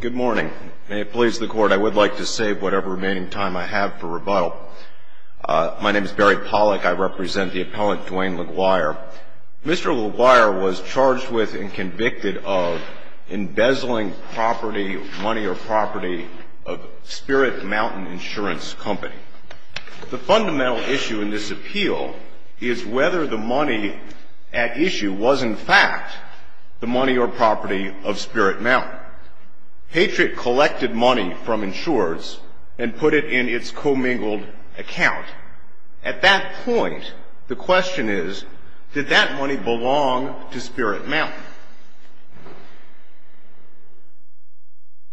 Good morning. May it please the court, I would like to save whatever remaining time I have for rebuttal. My name is Barry Pollack. I represent the appellant, Dwayne Lequire. Mr. Lequire was charged with and convicted of embezzling property, money or property, of Spirit Mountain Insurance Company. The fundamental issue in this appeal is whether the money at issue was in fact the money or property of Spirit Mountain. Patriot collected money from insurers and put it in its commingled account. At that point, the question is, did that money belong to Spirit Mountain?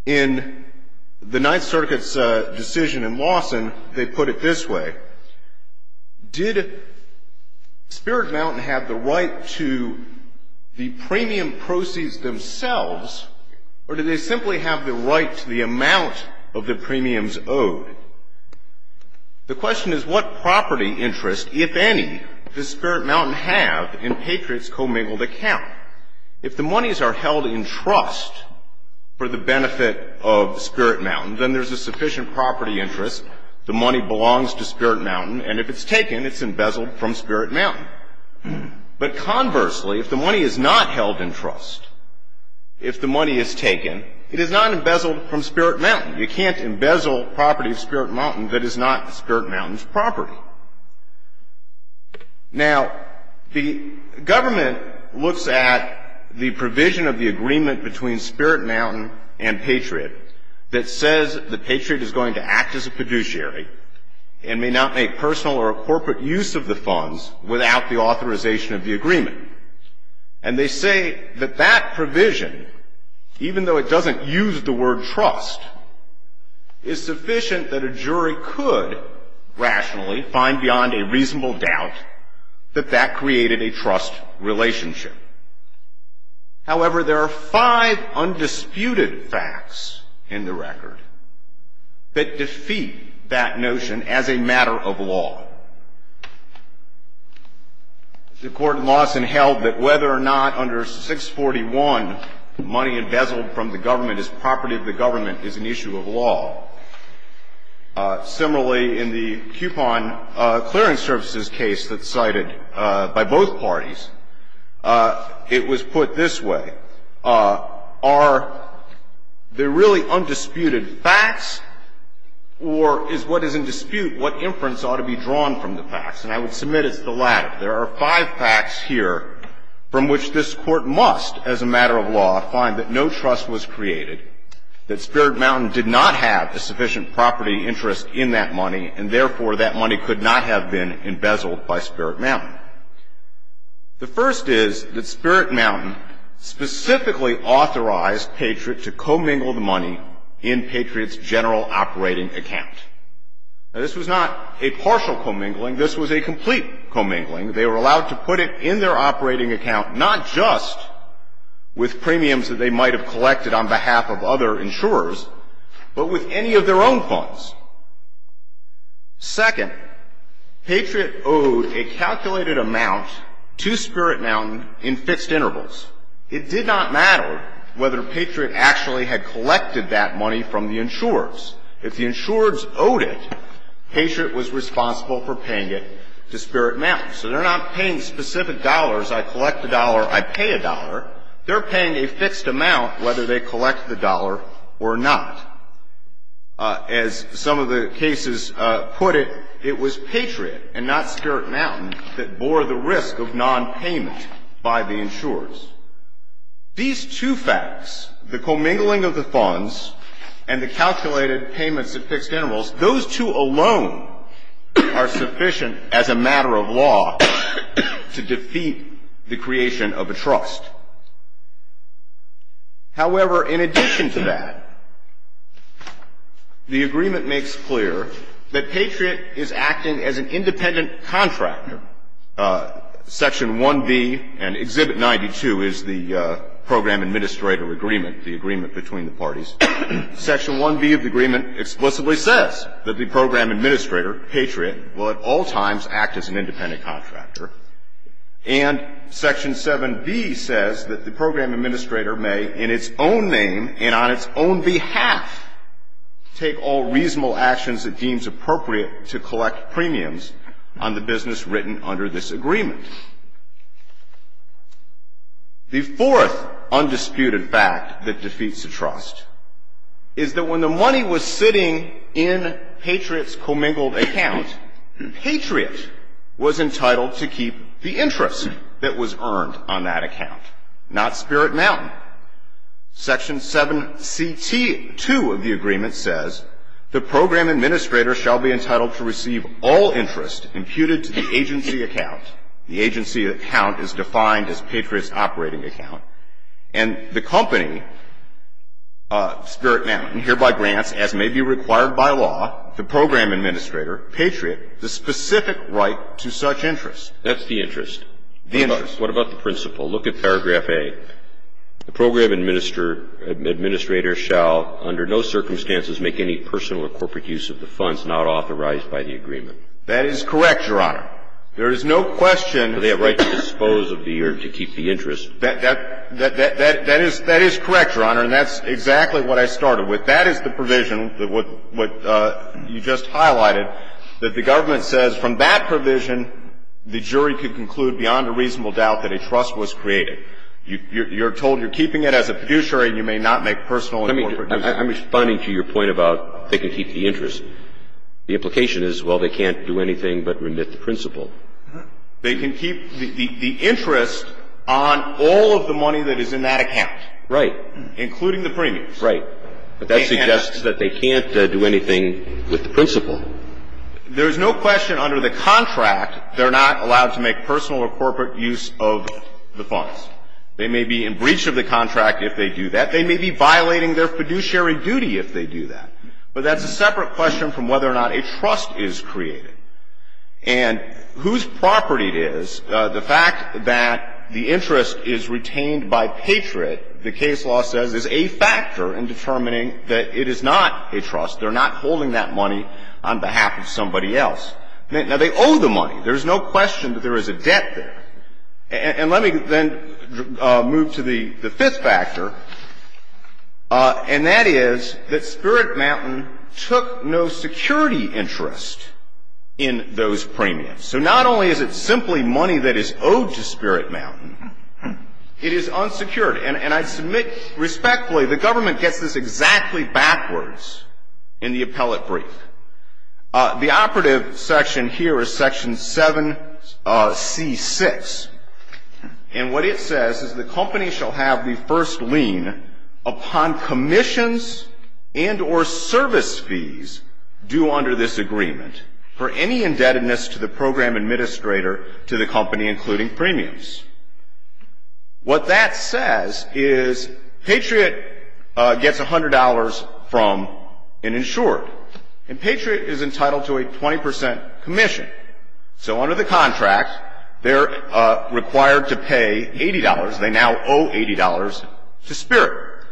In the Ninth Circuit's decision in Lawson, they put it this way. Did Spirit Mountain have the right to the premium proceeds themselves, or did they simply have the right to the amount of the premiums owed? The question is, what property interest, if any, does Spirit Mountain have in Patriot's commingled account? If the monies are held in trust for the benefit of Spirit Mountain, then there's a sufficient property interest. The money belongs to Spirit Mountain, and if it's taken, it's embezzled from Spirit Mountain. But conversely, if the money is not held in trust, if the money is taken, it is not embezzled from Spirit Mountain. You can't embezzle property of Spirit Mountain that is not Spirit Mountain's property. Now, the government looks at the provision of the agreement between Spirit Mountain and Patriot that says that Patriot is going to act as a fiduciary and may not make personal or corporate use of the funds without the authorization of the agreement. And they say that that provision, even though it doesn't use the word trust, is sufficient that a jury could rationally find beyond a reasonable doubt that that created a trust relationship. However, there are five undisputed facts in the record that defeat that notion as a matter of law. The court in Lawson held that whether or not under 641 money embezzled from the government is property of the government is an issue of law. Similarly, in the coupon clearing services case that's cited by both parties, it was put this way. Are they really undisputed facts, or is what is in dispute what inference ought to be drawn from the facts? And I would submit it's the latter. There are five facts here from which this Court must, as a matter of law, find that no trust was created, that Spirit Mountain did not have a sufficient property interest in that money, and therefore that money could not have been embezzled by Spirit Mountain. The first is that Spirit Mountain specifically authorized Patriot to commingle the money in Patriot's general operating account. Now, this was not a partial commingling. This was a complete commingling. They were allowed to put it in their operating account, not just with premiums that they might have collected on behalf of other insurers, but with any of their own funds. Second, Patriot owed a calculated amount to Spirit Mountain in fixed intervals. It did not matter whether Patriot actually had collected that money from the insurers. If the insurers owed it, Patriot was responsible for paying it to Spirit Mountain. So they're not paying specific dollars. I collect the dollar, I pay a dollar. They're paying a fixed amount whether they collect the dollar or not. As some of the cases put it, it was Patriot and not Spirit Mountain that bore the risk of nonpayment by the insurers. These two facts, the commingling of the funds and the calculated payments at fixed intervals, those two alone are sufficient as a matter of law to defeat the creation of a trust. However, in addition to that, the agreement makes clear that Patriot is acting as an independent contractor. Section 1B and Exhibit 92 is the program administrator agreement, the agreement between the parties. Section 1B of the agreement explicitly says that the program administrator, Patriot, will at all times act as an independent contractor. And Section 7B says that the program administrator may, in its own name and on its own behalf, take all reasonable actions it deems appropriate to collect premiums on the business written under this agreement. The fourth undisputed fact that defeats the trust is that when the money was sitting in Patriot's commingled account, Patriot was entitled to keep the interest that was earned on that account, not Spirit Mountain. Section 7CT2 of the agreement says, the program administrator shall be entitled to receive all interest imputed to the agency account. The agency account is defined as Patriot's operating account. And the company, Spirit Mountain, hereby grants, as may be required by law, the program administrator, Patriot, the specific right to such interest. That's the interest. The interest. What about the principle? Look at paragraph A. The program administrator shall under no circumstances make any personal or corporate use of the funds not authorized by the agreement. That is correct, Your Honor. There is no question that they have the right to dispose of the or to keep the interest. That is correct, Your Honor, and that's exactly what I started with. But that is the provision that what you just highlighted, that the government says from that provision the jury could conclude beyond a reasonable doubt that a trust was created. You're told you're keeping it as a fiduciary and you may not make personal or corporate use of it. I'm responding to your point about they can keep the interest. The implication is, well, they can't do anything but remit the principle. They can keep the interest on all of the money that is in that account. Right. Including the premiums. That's right. But that suggests that they can't do anything with the principle. There is no question under the contract they're not allowed to make personal or corporate use of the funds. They may be in breach of the contract if they do that. They may be violating their fiduciary duty if they do that. But that's a separate question from whether or not a trust is created. And whose property it is, the fact that the interest is retained by Patriot, the case law says, is a factor in determining that it is not a trust. They're not holding that money on behalf of somebody else. Now, they owe the money. There's no question that there is a debt there. And let me then move to the fifth factor, and that is that Spirit Mountain took no security interest in those premiums. So not only is it simply money that is owed to Spirit Mountain, it is unsecured. And I submit respectfully the government gets this exactly backwards in the appellate brief. The operative section here is section 7C6. And what it says is the company shall have the first lien upon commissions and or service fees due under this agreement for any indebtedness to the program administrator to the company, including premiums. What that says is Patriot gets $100 from an insurer. And Patriot is entitled to a 20 percent commission. So under the contract, they're required to pay $80. They now owe $80 to Spirit.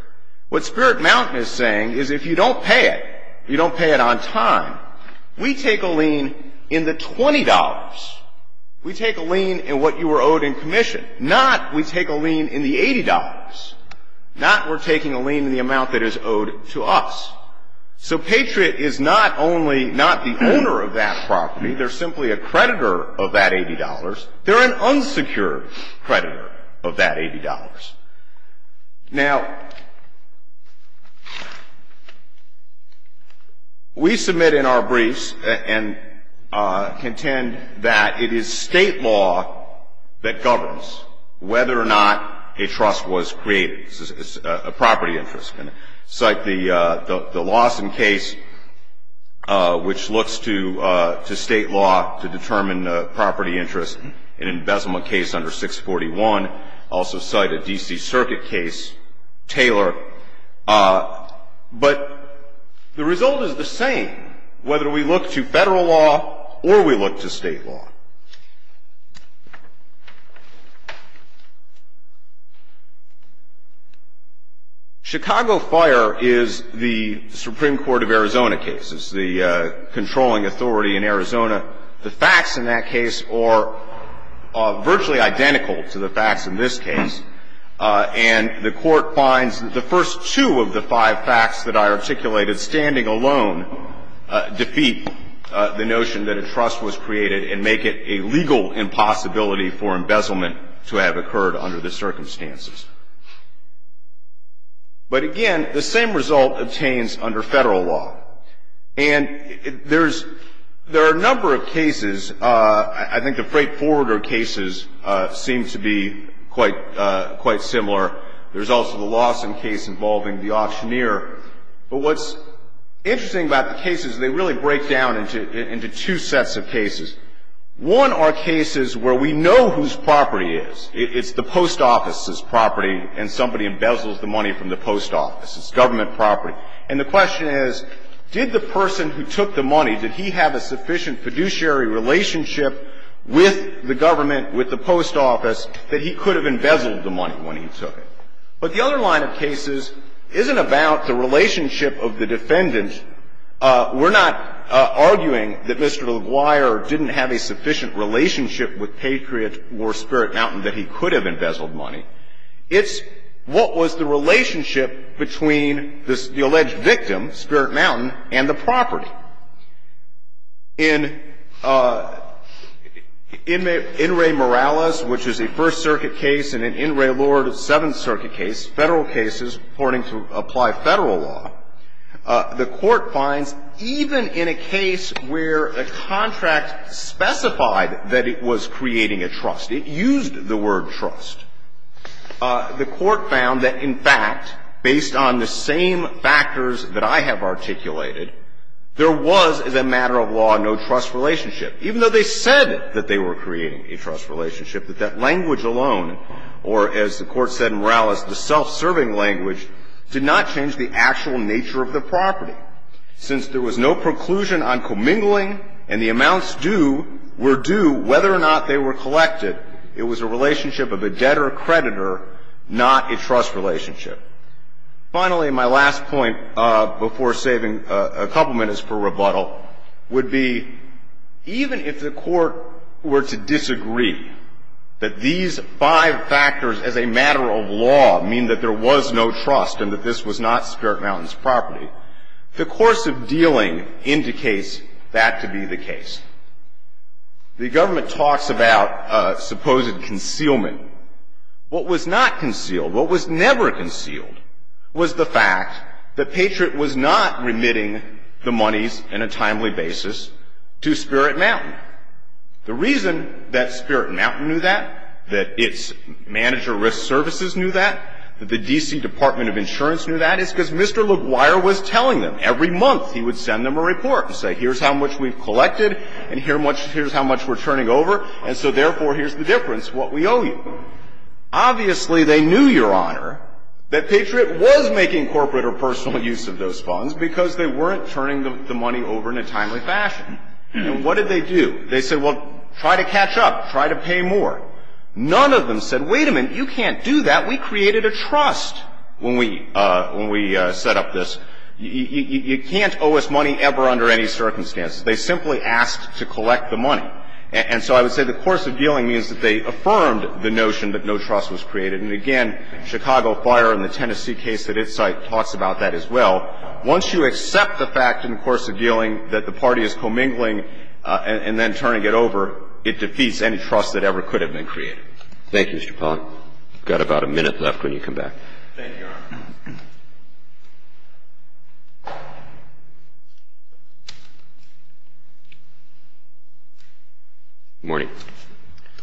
What Spirit Mountain is saying is if you don't pay it, you don't pay it on time, we take a lien in the $20. We take a lien in what you were owed in commission. Not we take a lien in the $80. Not we're taking a lien in the amount that is owed to us. So Patriot is not only not the owner of that property, they're simply a creditor of that $80. They're an unsecured creditor of that $80. Now, we submit in our briefs and contend that it is state law that governs whether or not a trust was created. It's a property interest. Cite the Lawson case, which looks to state law to determine property interest. An embezzlement case under 641. Also cite a D.C. Circuit case, Taylor. But the result is the same whether we look to federal law or we look to state law. Chicago Fire is the Supreme Court of Arizona case. It's the controlling authority in Arizona. The facts in that case are virtually identical to the facts in this case. And the Court finds that the first two of the five facts that I articulated standing alone defeat the notion that a trust was created and make it a legal impossibility for embezzlement to have occurred under the circumstances. But, again, the same result obtains under federal law. And there are a number of cases. I think the Freight Forwarder cases seem to be quite similar. There's also the Lawson case involving the auctioneer. But what's interesting about the cases, they really break down into two sets of cases. One are cases where we know whose property it is. It's the post office's property and somebody embezzles the money from the post office. It's government property. And the question is, did the person who took the money, did he have a sufficient fiduciary relationship with the government, with the post office, that he could have embezzled the money when he took it? But the other line of cases isn't about the relationship of the defendant. And we're not arguing that Mr. LaGuire didn't have a sufficient relationship with Patriot or Spirit Mountain that he could have embezzled money. It's what was the relationship between the alleged victim, Spirit Mountain, and the property. In In re Morales, which is a First Circuit case, and in In re Lord, a Seventh Circuit case, Federal cases reporting to apply Federal law, the Court finds even in a case where a contract specified that it was creating a trust, it used the word trust, the Court found that, in fact, based on the same factors that I have articulated, there was, as a matter of law, no trust relationship. Even though they said that they were creating a trust relationship, that that language alone, or, as the Court said in Morales, the self-serving language, did not change the actual nature of the property. Since there was no preclusion on commingling and the amounts due were due, whether or not they were collected, it was a relationship of a debtor-creditor, not a trust relationship. Finally, my last point, before saving a couple minutes for rebuttal, would be, even if the Court were to disagree that these five factors, as a matter of law, mean that there was no trust and that this was not Spirit Mountain's property, the course of dealing indicates that to be the case. The Government talks about supposed concealment. What was not concealed, what was never concealed, was the fact that Patriot was not remitting the monies in a timely basis to Spirit Mountain. The reason that Spirit Mountain knew that, that its manager of risk services knew that, that the D.C. Department of Insurance knew that, is because Mr. LaGuire was telling them. Every month, he would send them a report and say, here's how much we've collected, and here's how much we're turning over, and so, therefore, here's the difference, what we owe you. Obviously, they knew, Your Honor, that Patriot was making corporate or personal use of those funds because they weren't turning the money over in a timely fashion. And what did they do? They said, well, try to catch up. Try to pay more. None of them said, wait a minute, you can't do that. We created a trust when we set up this. You can't owe us money ever under any circumstances. They simply asked to collect the money. And so I would say the course of dealing means that they affirmed the notion that no trust was created. And again, Chicago Fire in the Tennessee case at its site talks about that as well. Once you accept the fact in the course of dealing that the party is commingling and then turning it over, it defeats any trust that ever could have been created. Thank you, Mr. Pond. We've got about a minute left when you come back. Thank you, Your Honor. Good morning.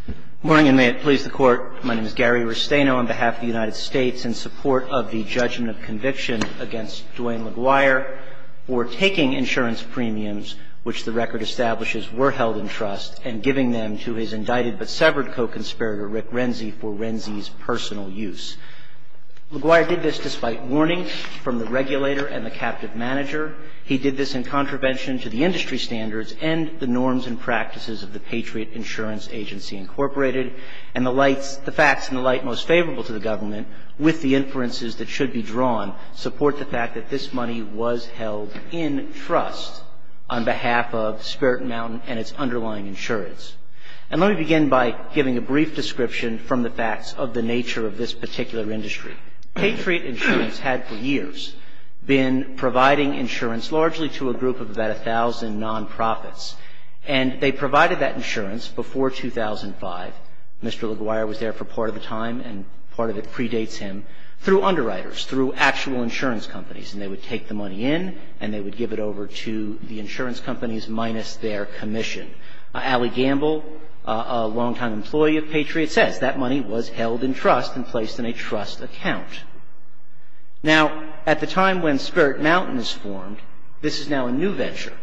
Good morning, and may it please the Court. My name is Gary Restaino on behalf of the United States in support of the judgment of conviction against Duane LaGuire for taking insurance premiums which the record establishes were held in trust and giving them to his indicted but severed co-conspirator Rick Renzi for Renzi's personal use. LaGuire did this despite warning from the regulator and the captive manager. He did this in contravention to the industry standards and the norms and practices of the Patriot Insurance Agency, Incorporated, and the facts in the light most favorable to the government with the inferences that should be drawn support the fact that this money was held in trust on behalf of Spirit Mountain and its underlying insurance. And let me begin by giving a brief description from the facts of the nature of this particular industry. Patriot Insurance had for years been providing insurance largely to a group of about And they provided that insurance before 2005. Mr. LaGuire was there for part of the time, and part of it predates him, through underwriters, through actual insurance companies. And they would take the money in, and they would give it over to the insurance companies minus their commission. Allie Gamble, a long-time employee of Patriot, says that money was held in trust and placed in a trust account. Now, at the time when Spirit Mountain was formed, this is now a new venture.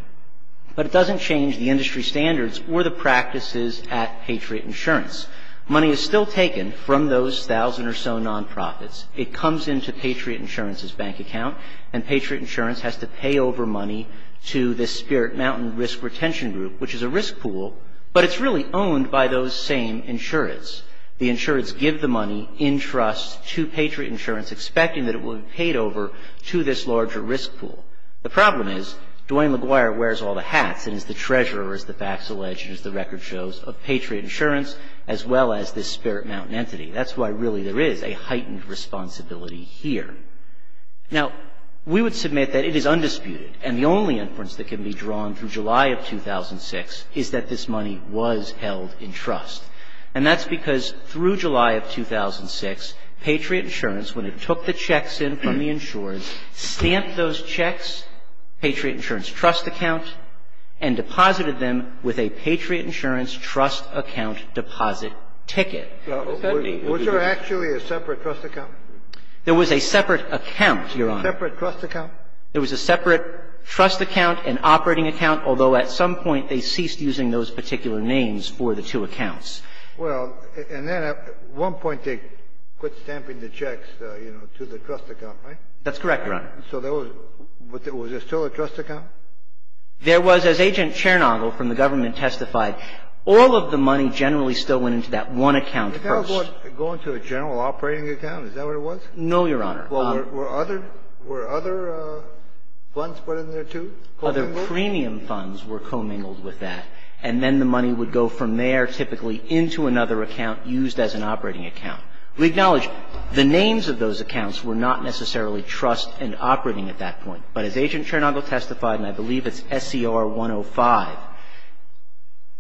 But it doesn't change the industry standards or the practices at Patriot Insurance. Money is still taken from those thousand or so non-profits. It comes into Patriot Insurance's bank account, and Patriot Insurance has to pay over money to the Spirit Mountain Risk Retention Group, which is a risk pool, but it's really owned by those same insurance. The insurance give the money in trust to Patriot Insurance, expecting that it will be paid over to this larger risk pool. The problem is Duane LaGuire wears all the hats and is the treasurer, as the facts allege and as the record shows, of Patriot Insurance as well as this Spirit Mountain entity. That's why really there is a heightened responsibility here. Now, we would submit that it is undisputed, and the only inference that can be drawn from July of 2006 is that this money was held in trust. And that's because through July of 2006, Patriot Insurance, when it took the checks in from the insurers, stamped those checks, Patriot Insurance trust account, and deposited them with a Patriot Insurance trust account deposit ticket. Kennedy, was there actually a separate trust account? There was a separate account, Your Honor. A separate trust account? There was a separate trust account, an operating account, although at some point they ceased using those particular names for the two accounts. Well, and then at one point they quit stamping the checks, you know, to the trust account, right? That's correct, Your Honor. So there was – was there still a trust account? There was. As Agent Chernobyl from the government testified, all of the money generally still went into that one account first. Was that going to a general operating account? Is that what it was? No, Your Honor. Well, were other funds put in there, too? Other premium funds were commingled with that, and then the money would go from there typically into another account used as an operating account. We acknowledge the names of those accounts were not necessarily trust and operating at that point. But as Agent Chernobyl testified, and I believe it's SCR 105,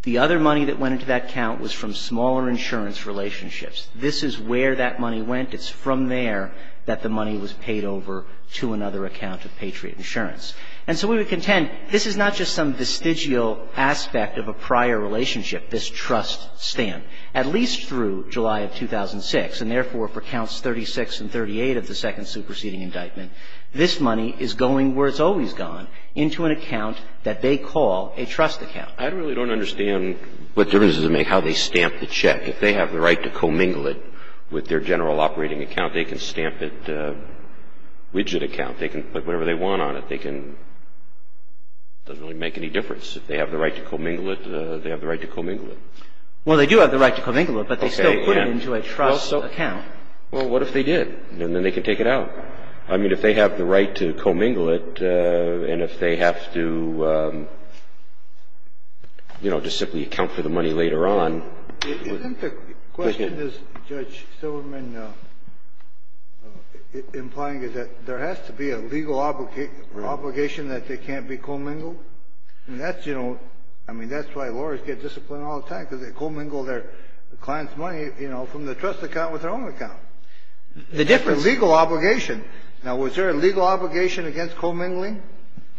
the other money that went into that account was from smaller insurance relationships. This is where that money went. It's from there that the money was paid over to another account of Patriot Insurance. And so we would contend this is not just some vestigial aspect of a prior relationship, this trust stamp. At least through July of 2006, and therefore for counts 36 and 38 of the second superseding indictment, this money is going where it's always gone, into an account that they call a trust account. I really don't understand what the reason is to make how they stamp the check. If they have the right to commingle it with their general operating account, they can stamp it widget account. If they can put whatever they want on it, they can. It doesn't really make any difference. If they have the right to commingle it, they have the right to commingle it. Well, they do have the right to commingle it, but they still put it into a trust account. Well, what if they did? And then they can take it out. I mean, if they have the right to commingle it and if they have to, you know, just simply account for the money later on. Isn't the question, as Judge Silverman implying, is that there has to be a legal obligation that they can't be commingled? And that's, you know, I mean, that's why lawyers get disciplined all the time, because they commingle their client's money, you know, from the trust account with their own account. The difference is the legal obligation. Now, was there a legal obligation against commingling?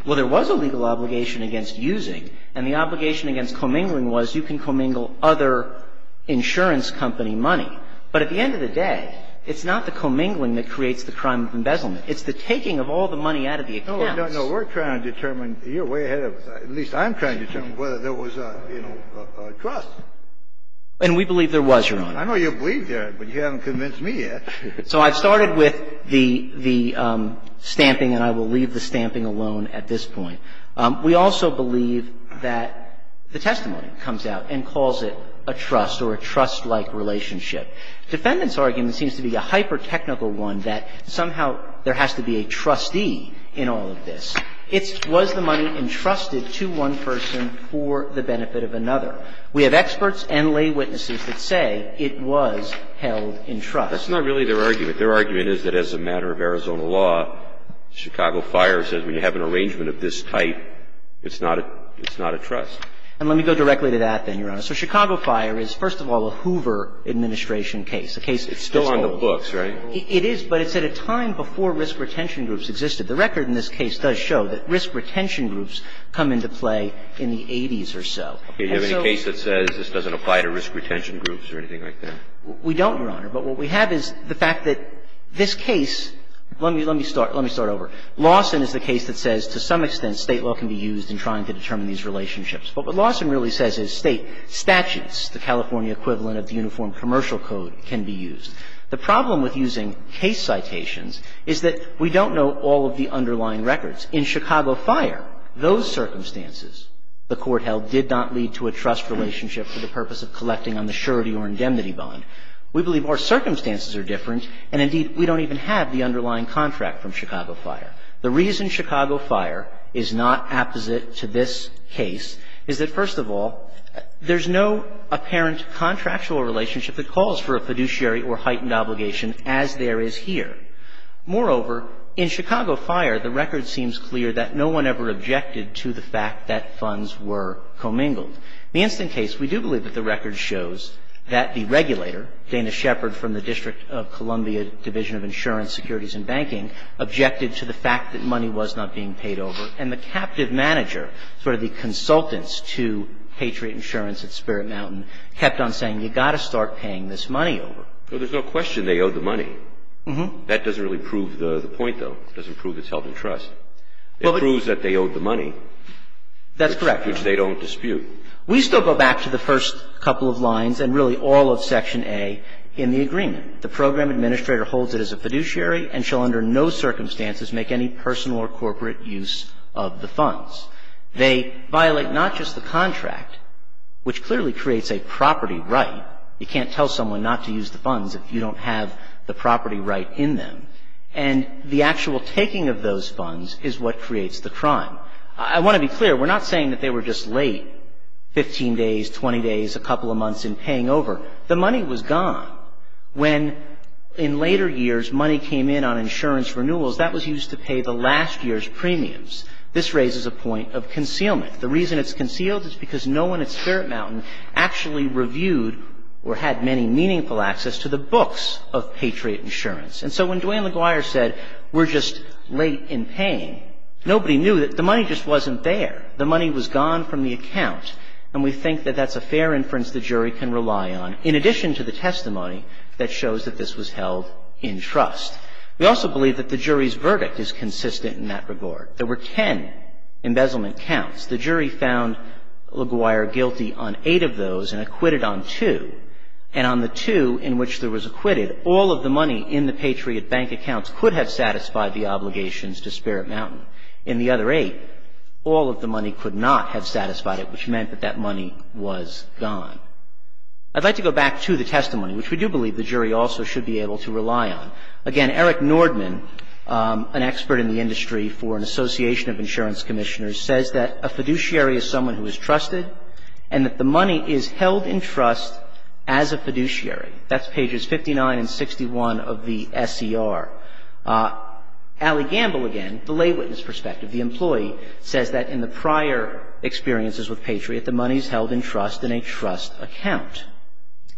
Well, there was a legal obligation against using. And the obligation against commingling was you can commingle other insurance company money. But at the end of the day, it's not the commingling that creates the crime of embezzlement. It's the taking of all the money out of the accounts. No, no, no. We're trying to determine. You're way ahead of us. At least I'm trying to determine whether there was a, you know, a trust. And we believe there was, Your Honor. I know you believe there is, but you haven't convinced me yet. So I've started with the stamping, and I will leave the stamping alone at this point. We also believe that the testimony comes out and calls it a trust or a trust-like relationship. Defendant's argument seems to be a hyper-technical one that somehow there has to be a trustee in all of this. It was the money entrusted to one person for the benefit of another. We have experts and lay witnesses that say it was held in trust. That's not really their argument. Their argument is that as a matter of Arizona law, Chicago Fire says when you have an arrangement of this type, it's not a trust. And let me go directly to that, then, Your Honor. So Chicago Fire is, first of all, a Hoover administration case, a case that's old. It's still on the books, right? It is, but it's at a time before risk retention groups existed. The record in this case does show that risk retention groups come into play in the 80s or so. Do you have any case that says this doesn't apply to risk retention groups or anything like that? We don't, Your Honor. But what we have is the fact that this case, let me start over. Lawson is the case that says to some extent State law can be used in trying to determine these relationships. But what Lawson really says is State statutes, the California equivalent of the Uniform Commercial Code, can be used. The problem with using case citations is that we don't know all of the underlying records. In Chicago Fire, those circumstances, the court held, did not lead to a trust relationship for the purpose of collecting on the surety or indemnity bond. We believe our circumstances are different, and, indeed, we don't even have the underlying contract from Chicago Fire. The reason Chicago Fire is not apposite to this case is that, first of all, there's no apparent contractual relationship that calls for a fiduciary or heightened obligation as there is here. Moreover, in Chicago Fire, the record seems clear that no one ever objected to the fact that funds were commingled. The instant case, we do believe that the record shows that the regulator, Dana Shepard from the District of Columbia Division of Insurance, Securities and Banking, objected to the fact that money was not being paid over. And the captive manager, sort of the consultants to Patriot Insurance at Spirit Mountain, kept on saying, you've got to start paying this money over. Well, there's no question they owed the money. That doesn't really prove the point, though. It doesn't prove it's held in trust. It proves that they owed the money. That's correct. Which they don't dispute. We still go back to the first couple of lines and really all of Section A in the agreement. The program administrator holds it as a fiduciary and shall under no circumstances make any personal or corporate use of the funds. They violate not just the contract, which clearly creates a property right. You can't tell someone not to use the funds if you don't have the property right in them. And the actual taking of those funds is what creates the crime. I want to be clear. We're not saying that they were just late, 15 days, 20 days, a couple of months in paying over. The money was gone. When, in later years, money came in on insurance renewals, that was used to pay the last year's premiums. This raises a point of concealment. The reason it's concealed is because no one at Spirit Mountain actually reviewed or had many meaningful access to the books of Patriot Insurance. And so when Duane LaGuire said, we're just late in paying, nobody knew that the money just wasn't there. The money was gone from the account. And we think that that's a fair inference the jury can rely on, in addition to the testimony that shows that this was held in trust. We also believe that the jury's verdict is consistent in that regard. There were ten embezzlement counts. The jury found LaGuire guilty on eight of those and acquitted on two. And on the two in which there was acquitted, all of the money in the Patriot Bank accounts could have satisfied the obligations to Spirit Mountain. In the other eight, all of the money could not have satisfied it, which meant that that money was gone. I'd like to go back to the testimony, which we do believe the jury also should be able to rely on. Again, Eric Nordman, an expert in the industry for an association of insurance commissioners, says that a fiduciary is someone who is trusted and that the money is held in trust as a fiduciary. That's pages 59 and 61 of the SCR. Allie Gamble, again, the lay witness perspective, the employee, says that in the prior experiences with Patriot, the money is held in trust in a trust account.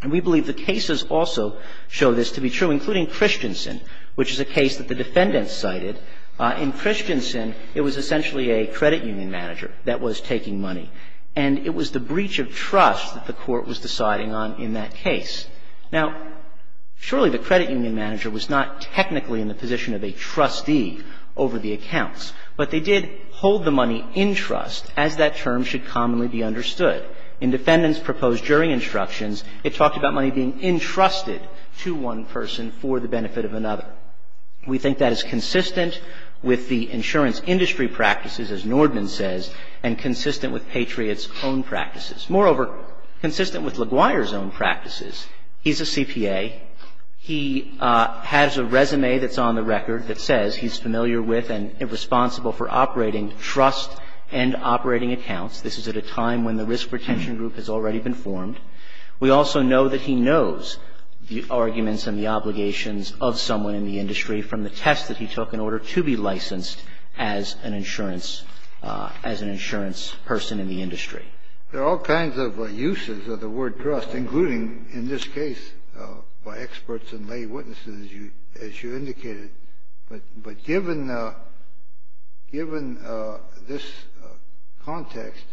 And we believe the cases also show this to be true, including Christensen, which is a case that the defendants cited. In Christensen, it was essentially a credit union manager that was taking money. And it was the breach of trust that the Court was deciding on in that case. Now, surely the credit union manager was not technically in the position of a trustee over the accounts, but they did hold the money in trust, as that term should commonly be understood. In defendants' proposed jury instructions, it talked about money being entrusted to one person for the benefit of another. We think that is consistent with the insurance industry practices, as Nordman says, and consistent with Patriot's own practices. Moreover, consistent with LaGuire's own practices, he's a CPA. He has a resume that's on the record that says he's familiar with and responsible for operating trust and operating accounts. This is at a time when the risk retention group has already been formed. We also know that he knows the arguments and the obligations of someone in the industry from the test that he took in order to be licensed as an insurance person in the industry. There are all kinds of uses of the word trust, including in this case by experts and lay witnesses, as you indicated. But given this context,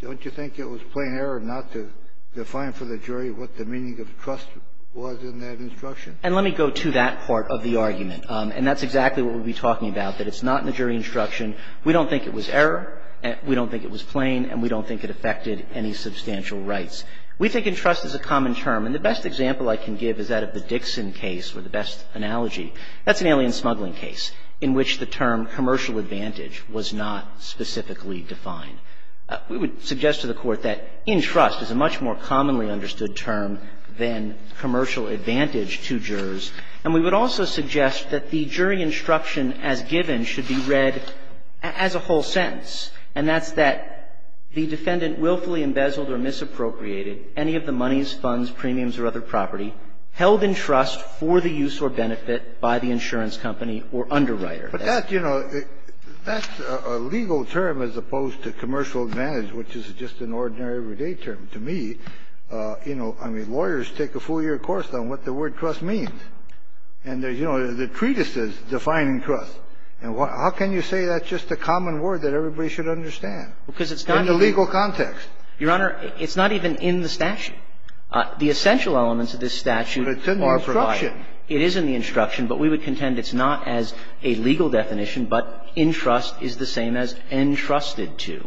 don't you think it was plain error not to define for the jury what the meaning of trust was in that instruction? And let me go to that part of the argument. And that's exactly what we'll be talking about, that it's not in the jury instruction. We don't think it was error. We don't think it was plain. And we don't think it affected any substantial rights. We think of trust as a common term. And the best example I can give is that of the Dixon case, or the best analogy. That's an alien smuggling case in which the term commercial advantage was not specifically defined. We would suggest to the Court that entrust is a much more commonly understood term than commercial advantage to jurors. And we would also suggest that the jury instruction as given should be read as a whole sentence, and that's that the defendant willfully embezzled or misappropriated any of the moneys, funds, premiums, or other property held in trust for the use or benefit by the insurance company or underwriter. But that's, you know, that's a legal term as opposed to commercial advantage, which is just an ordinary, everyday term. To me, you know, I mean, lawyers take a full year course on what the word trust means. And there's, you know, the treatises defining trust. And how can you say that's just a common word that everybody should understand? Because it's not in the legal context. Your Honor, it's not even in the statute. The essential elements of this statute are provided. But it's in the instruction. It is in the instruction. But we would contend it's not as a legal definition. But entrust is the same as entrusted to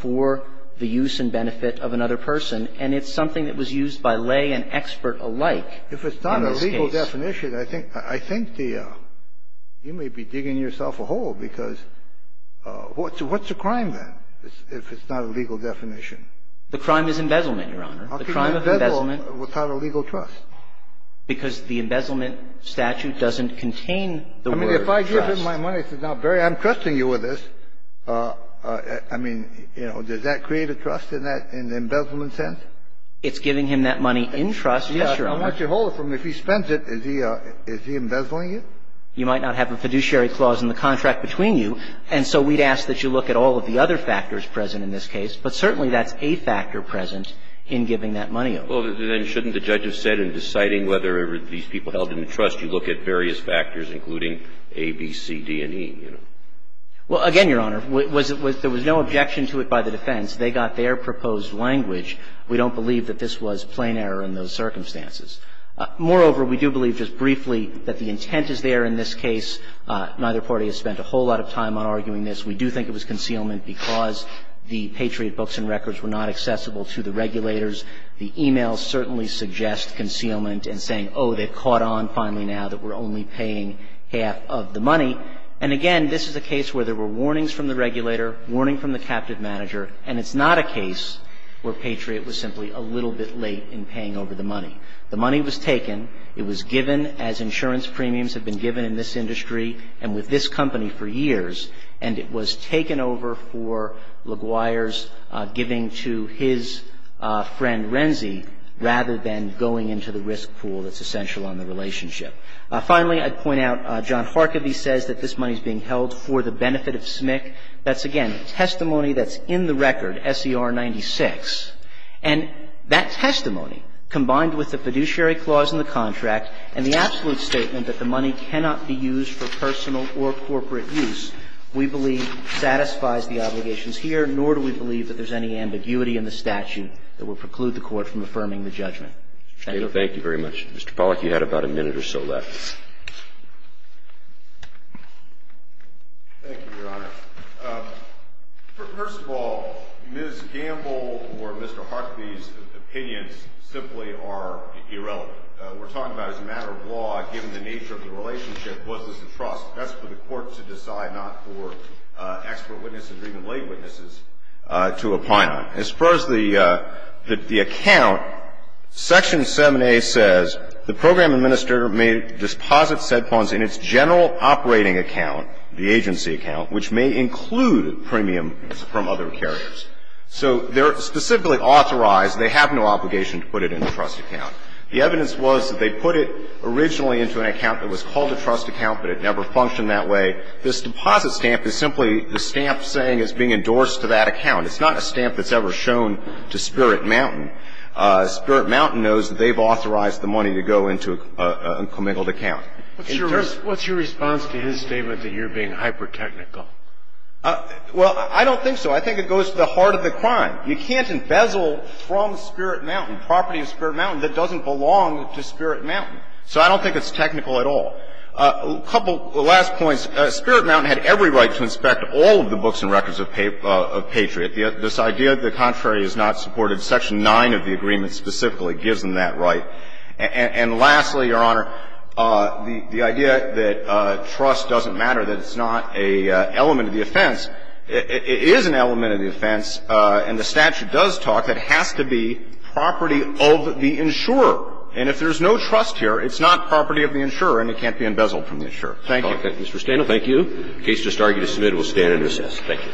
for the use and benefit of another person. And it's something that was used by lay and expert alike in this case. If it's not a legal definition, I think the – you may be digging yourself a hole, because what's a crime, then, if it's not a legal definition? The crime is embezzlement, Your Honor. The crime of embezzlement. Without a legal trust. Because the embezzlement statute doesn't contain the word trust. I mean, if I give him my money and say, now, Barry, I'm trusting you with this, I mean, you know, does that create a trust in that – in the embezzlement sense? It's giving him that money in trust. Yes, Your Honor. I want you to hold it for me. If he spends it, is he embezzling it? You might not have a fiduciary clause in the contract between you, and so we'd ask that you look at all of the other factors present in this case. But certainly, that's a factor present in giving that money over. Well, then, shouldn't the judge have said in deciding whether these people held in the trust, you look at various factors, including A, B, C, D, and E? Well, again, Your Honor, there was no objection to it by the defense. They got their proposed language. We don't believe that this was plain error in those circumstances. Moreover, we do believe just briefly that the intent is there in this case. Neither party has spent a whole lot of time on arguing this. We do think it was concealment because the Patriot books and records were not accessible to the regulators. The e-mails certainly suggest concealment in saying, oh, they've caught on finally now that we're only paying half of the money. And again, this is a case where there were warnings from the regulator, warning from the captive manager, and it's not a case where Patriot was simply a little bit late in paying over the money. The money was taken. It was given as insurance premiums have been given in this industry and with this company for years, and it was taken over for LaGuire's giving to his friend Renzi rather than going into the risk pool that's essential on the relationship. Finally, I'd point out John Harkavy says that this money is being held for the benefit of SMIC. That's, again, testimony that's in the record, S.E.R. 96. And that testimony, combined with the fiduciary clause in the contract and the absolute statement that the money cannot be used for personal or corporate use, we believe satisfies the obligations here, nor do we believe that there's any ambiguity in the statute that would preclude the Court from affirming the judgment. Thank you. Thank you very much. Mr. Pollack, you had about a minute or so left. Thank you, Your Honor. First of all, Ms. Gamble or Mr. Harkavy's opinions simply are irrelevant. We're talking about as a matter of law, given the nature of the relationship, was this a trust? That's for the Court to decide, not for expert witnesses or even lay witnesses to opine on. As far as the account, Section 7a says, the program administrator may deposit said funds in its general operating account, the agency account, which may include premiums from other carriers. So they're specifically authorized. They have no obligation to put it in a trust account. The evidence was that they put it originally into an account that was called a trust account, but it never functioned that way. This deposit stamp is simply the stamp saying it's being endorsed to that account. It's not a stamp that's ever shown to Spirit Mountain. Spirit Mountain knows that they've authorized the money to go into a commingled account. What's your response to his statement that you're being hyper-technical? Well, I don't think so. I think it goes to the heart of the crime. You can't embezzle from Spirit Mountain, property of Spirit Mountain, that doesn't belong to Spirit Mountain. So I don't think it's technical at all. A couple last points. Spirit Mountain had every right to inspect all of the books and records of Patriot. This idea that the contrary is not supported, section 9 of the agreement specifically gives them that right. And lastly, Your Honor, the idea that trust doesn't matter, that it's not an element of the offense, it is an element of the offense, and the statute does talk, that has to be property of the insurer. And if there's no trust here, it's not property of the insurer and it can't be embezzled from the insurer. Thank you. Mr. Stainill, thank you. The case just argued is submitted. We'll stand and recess. Thank you. All rise.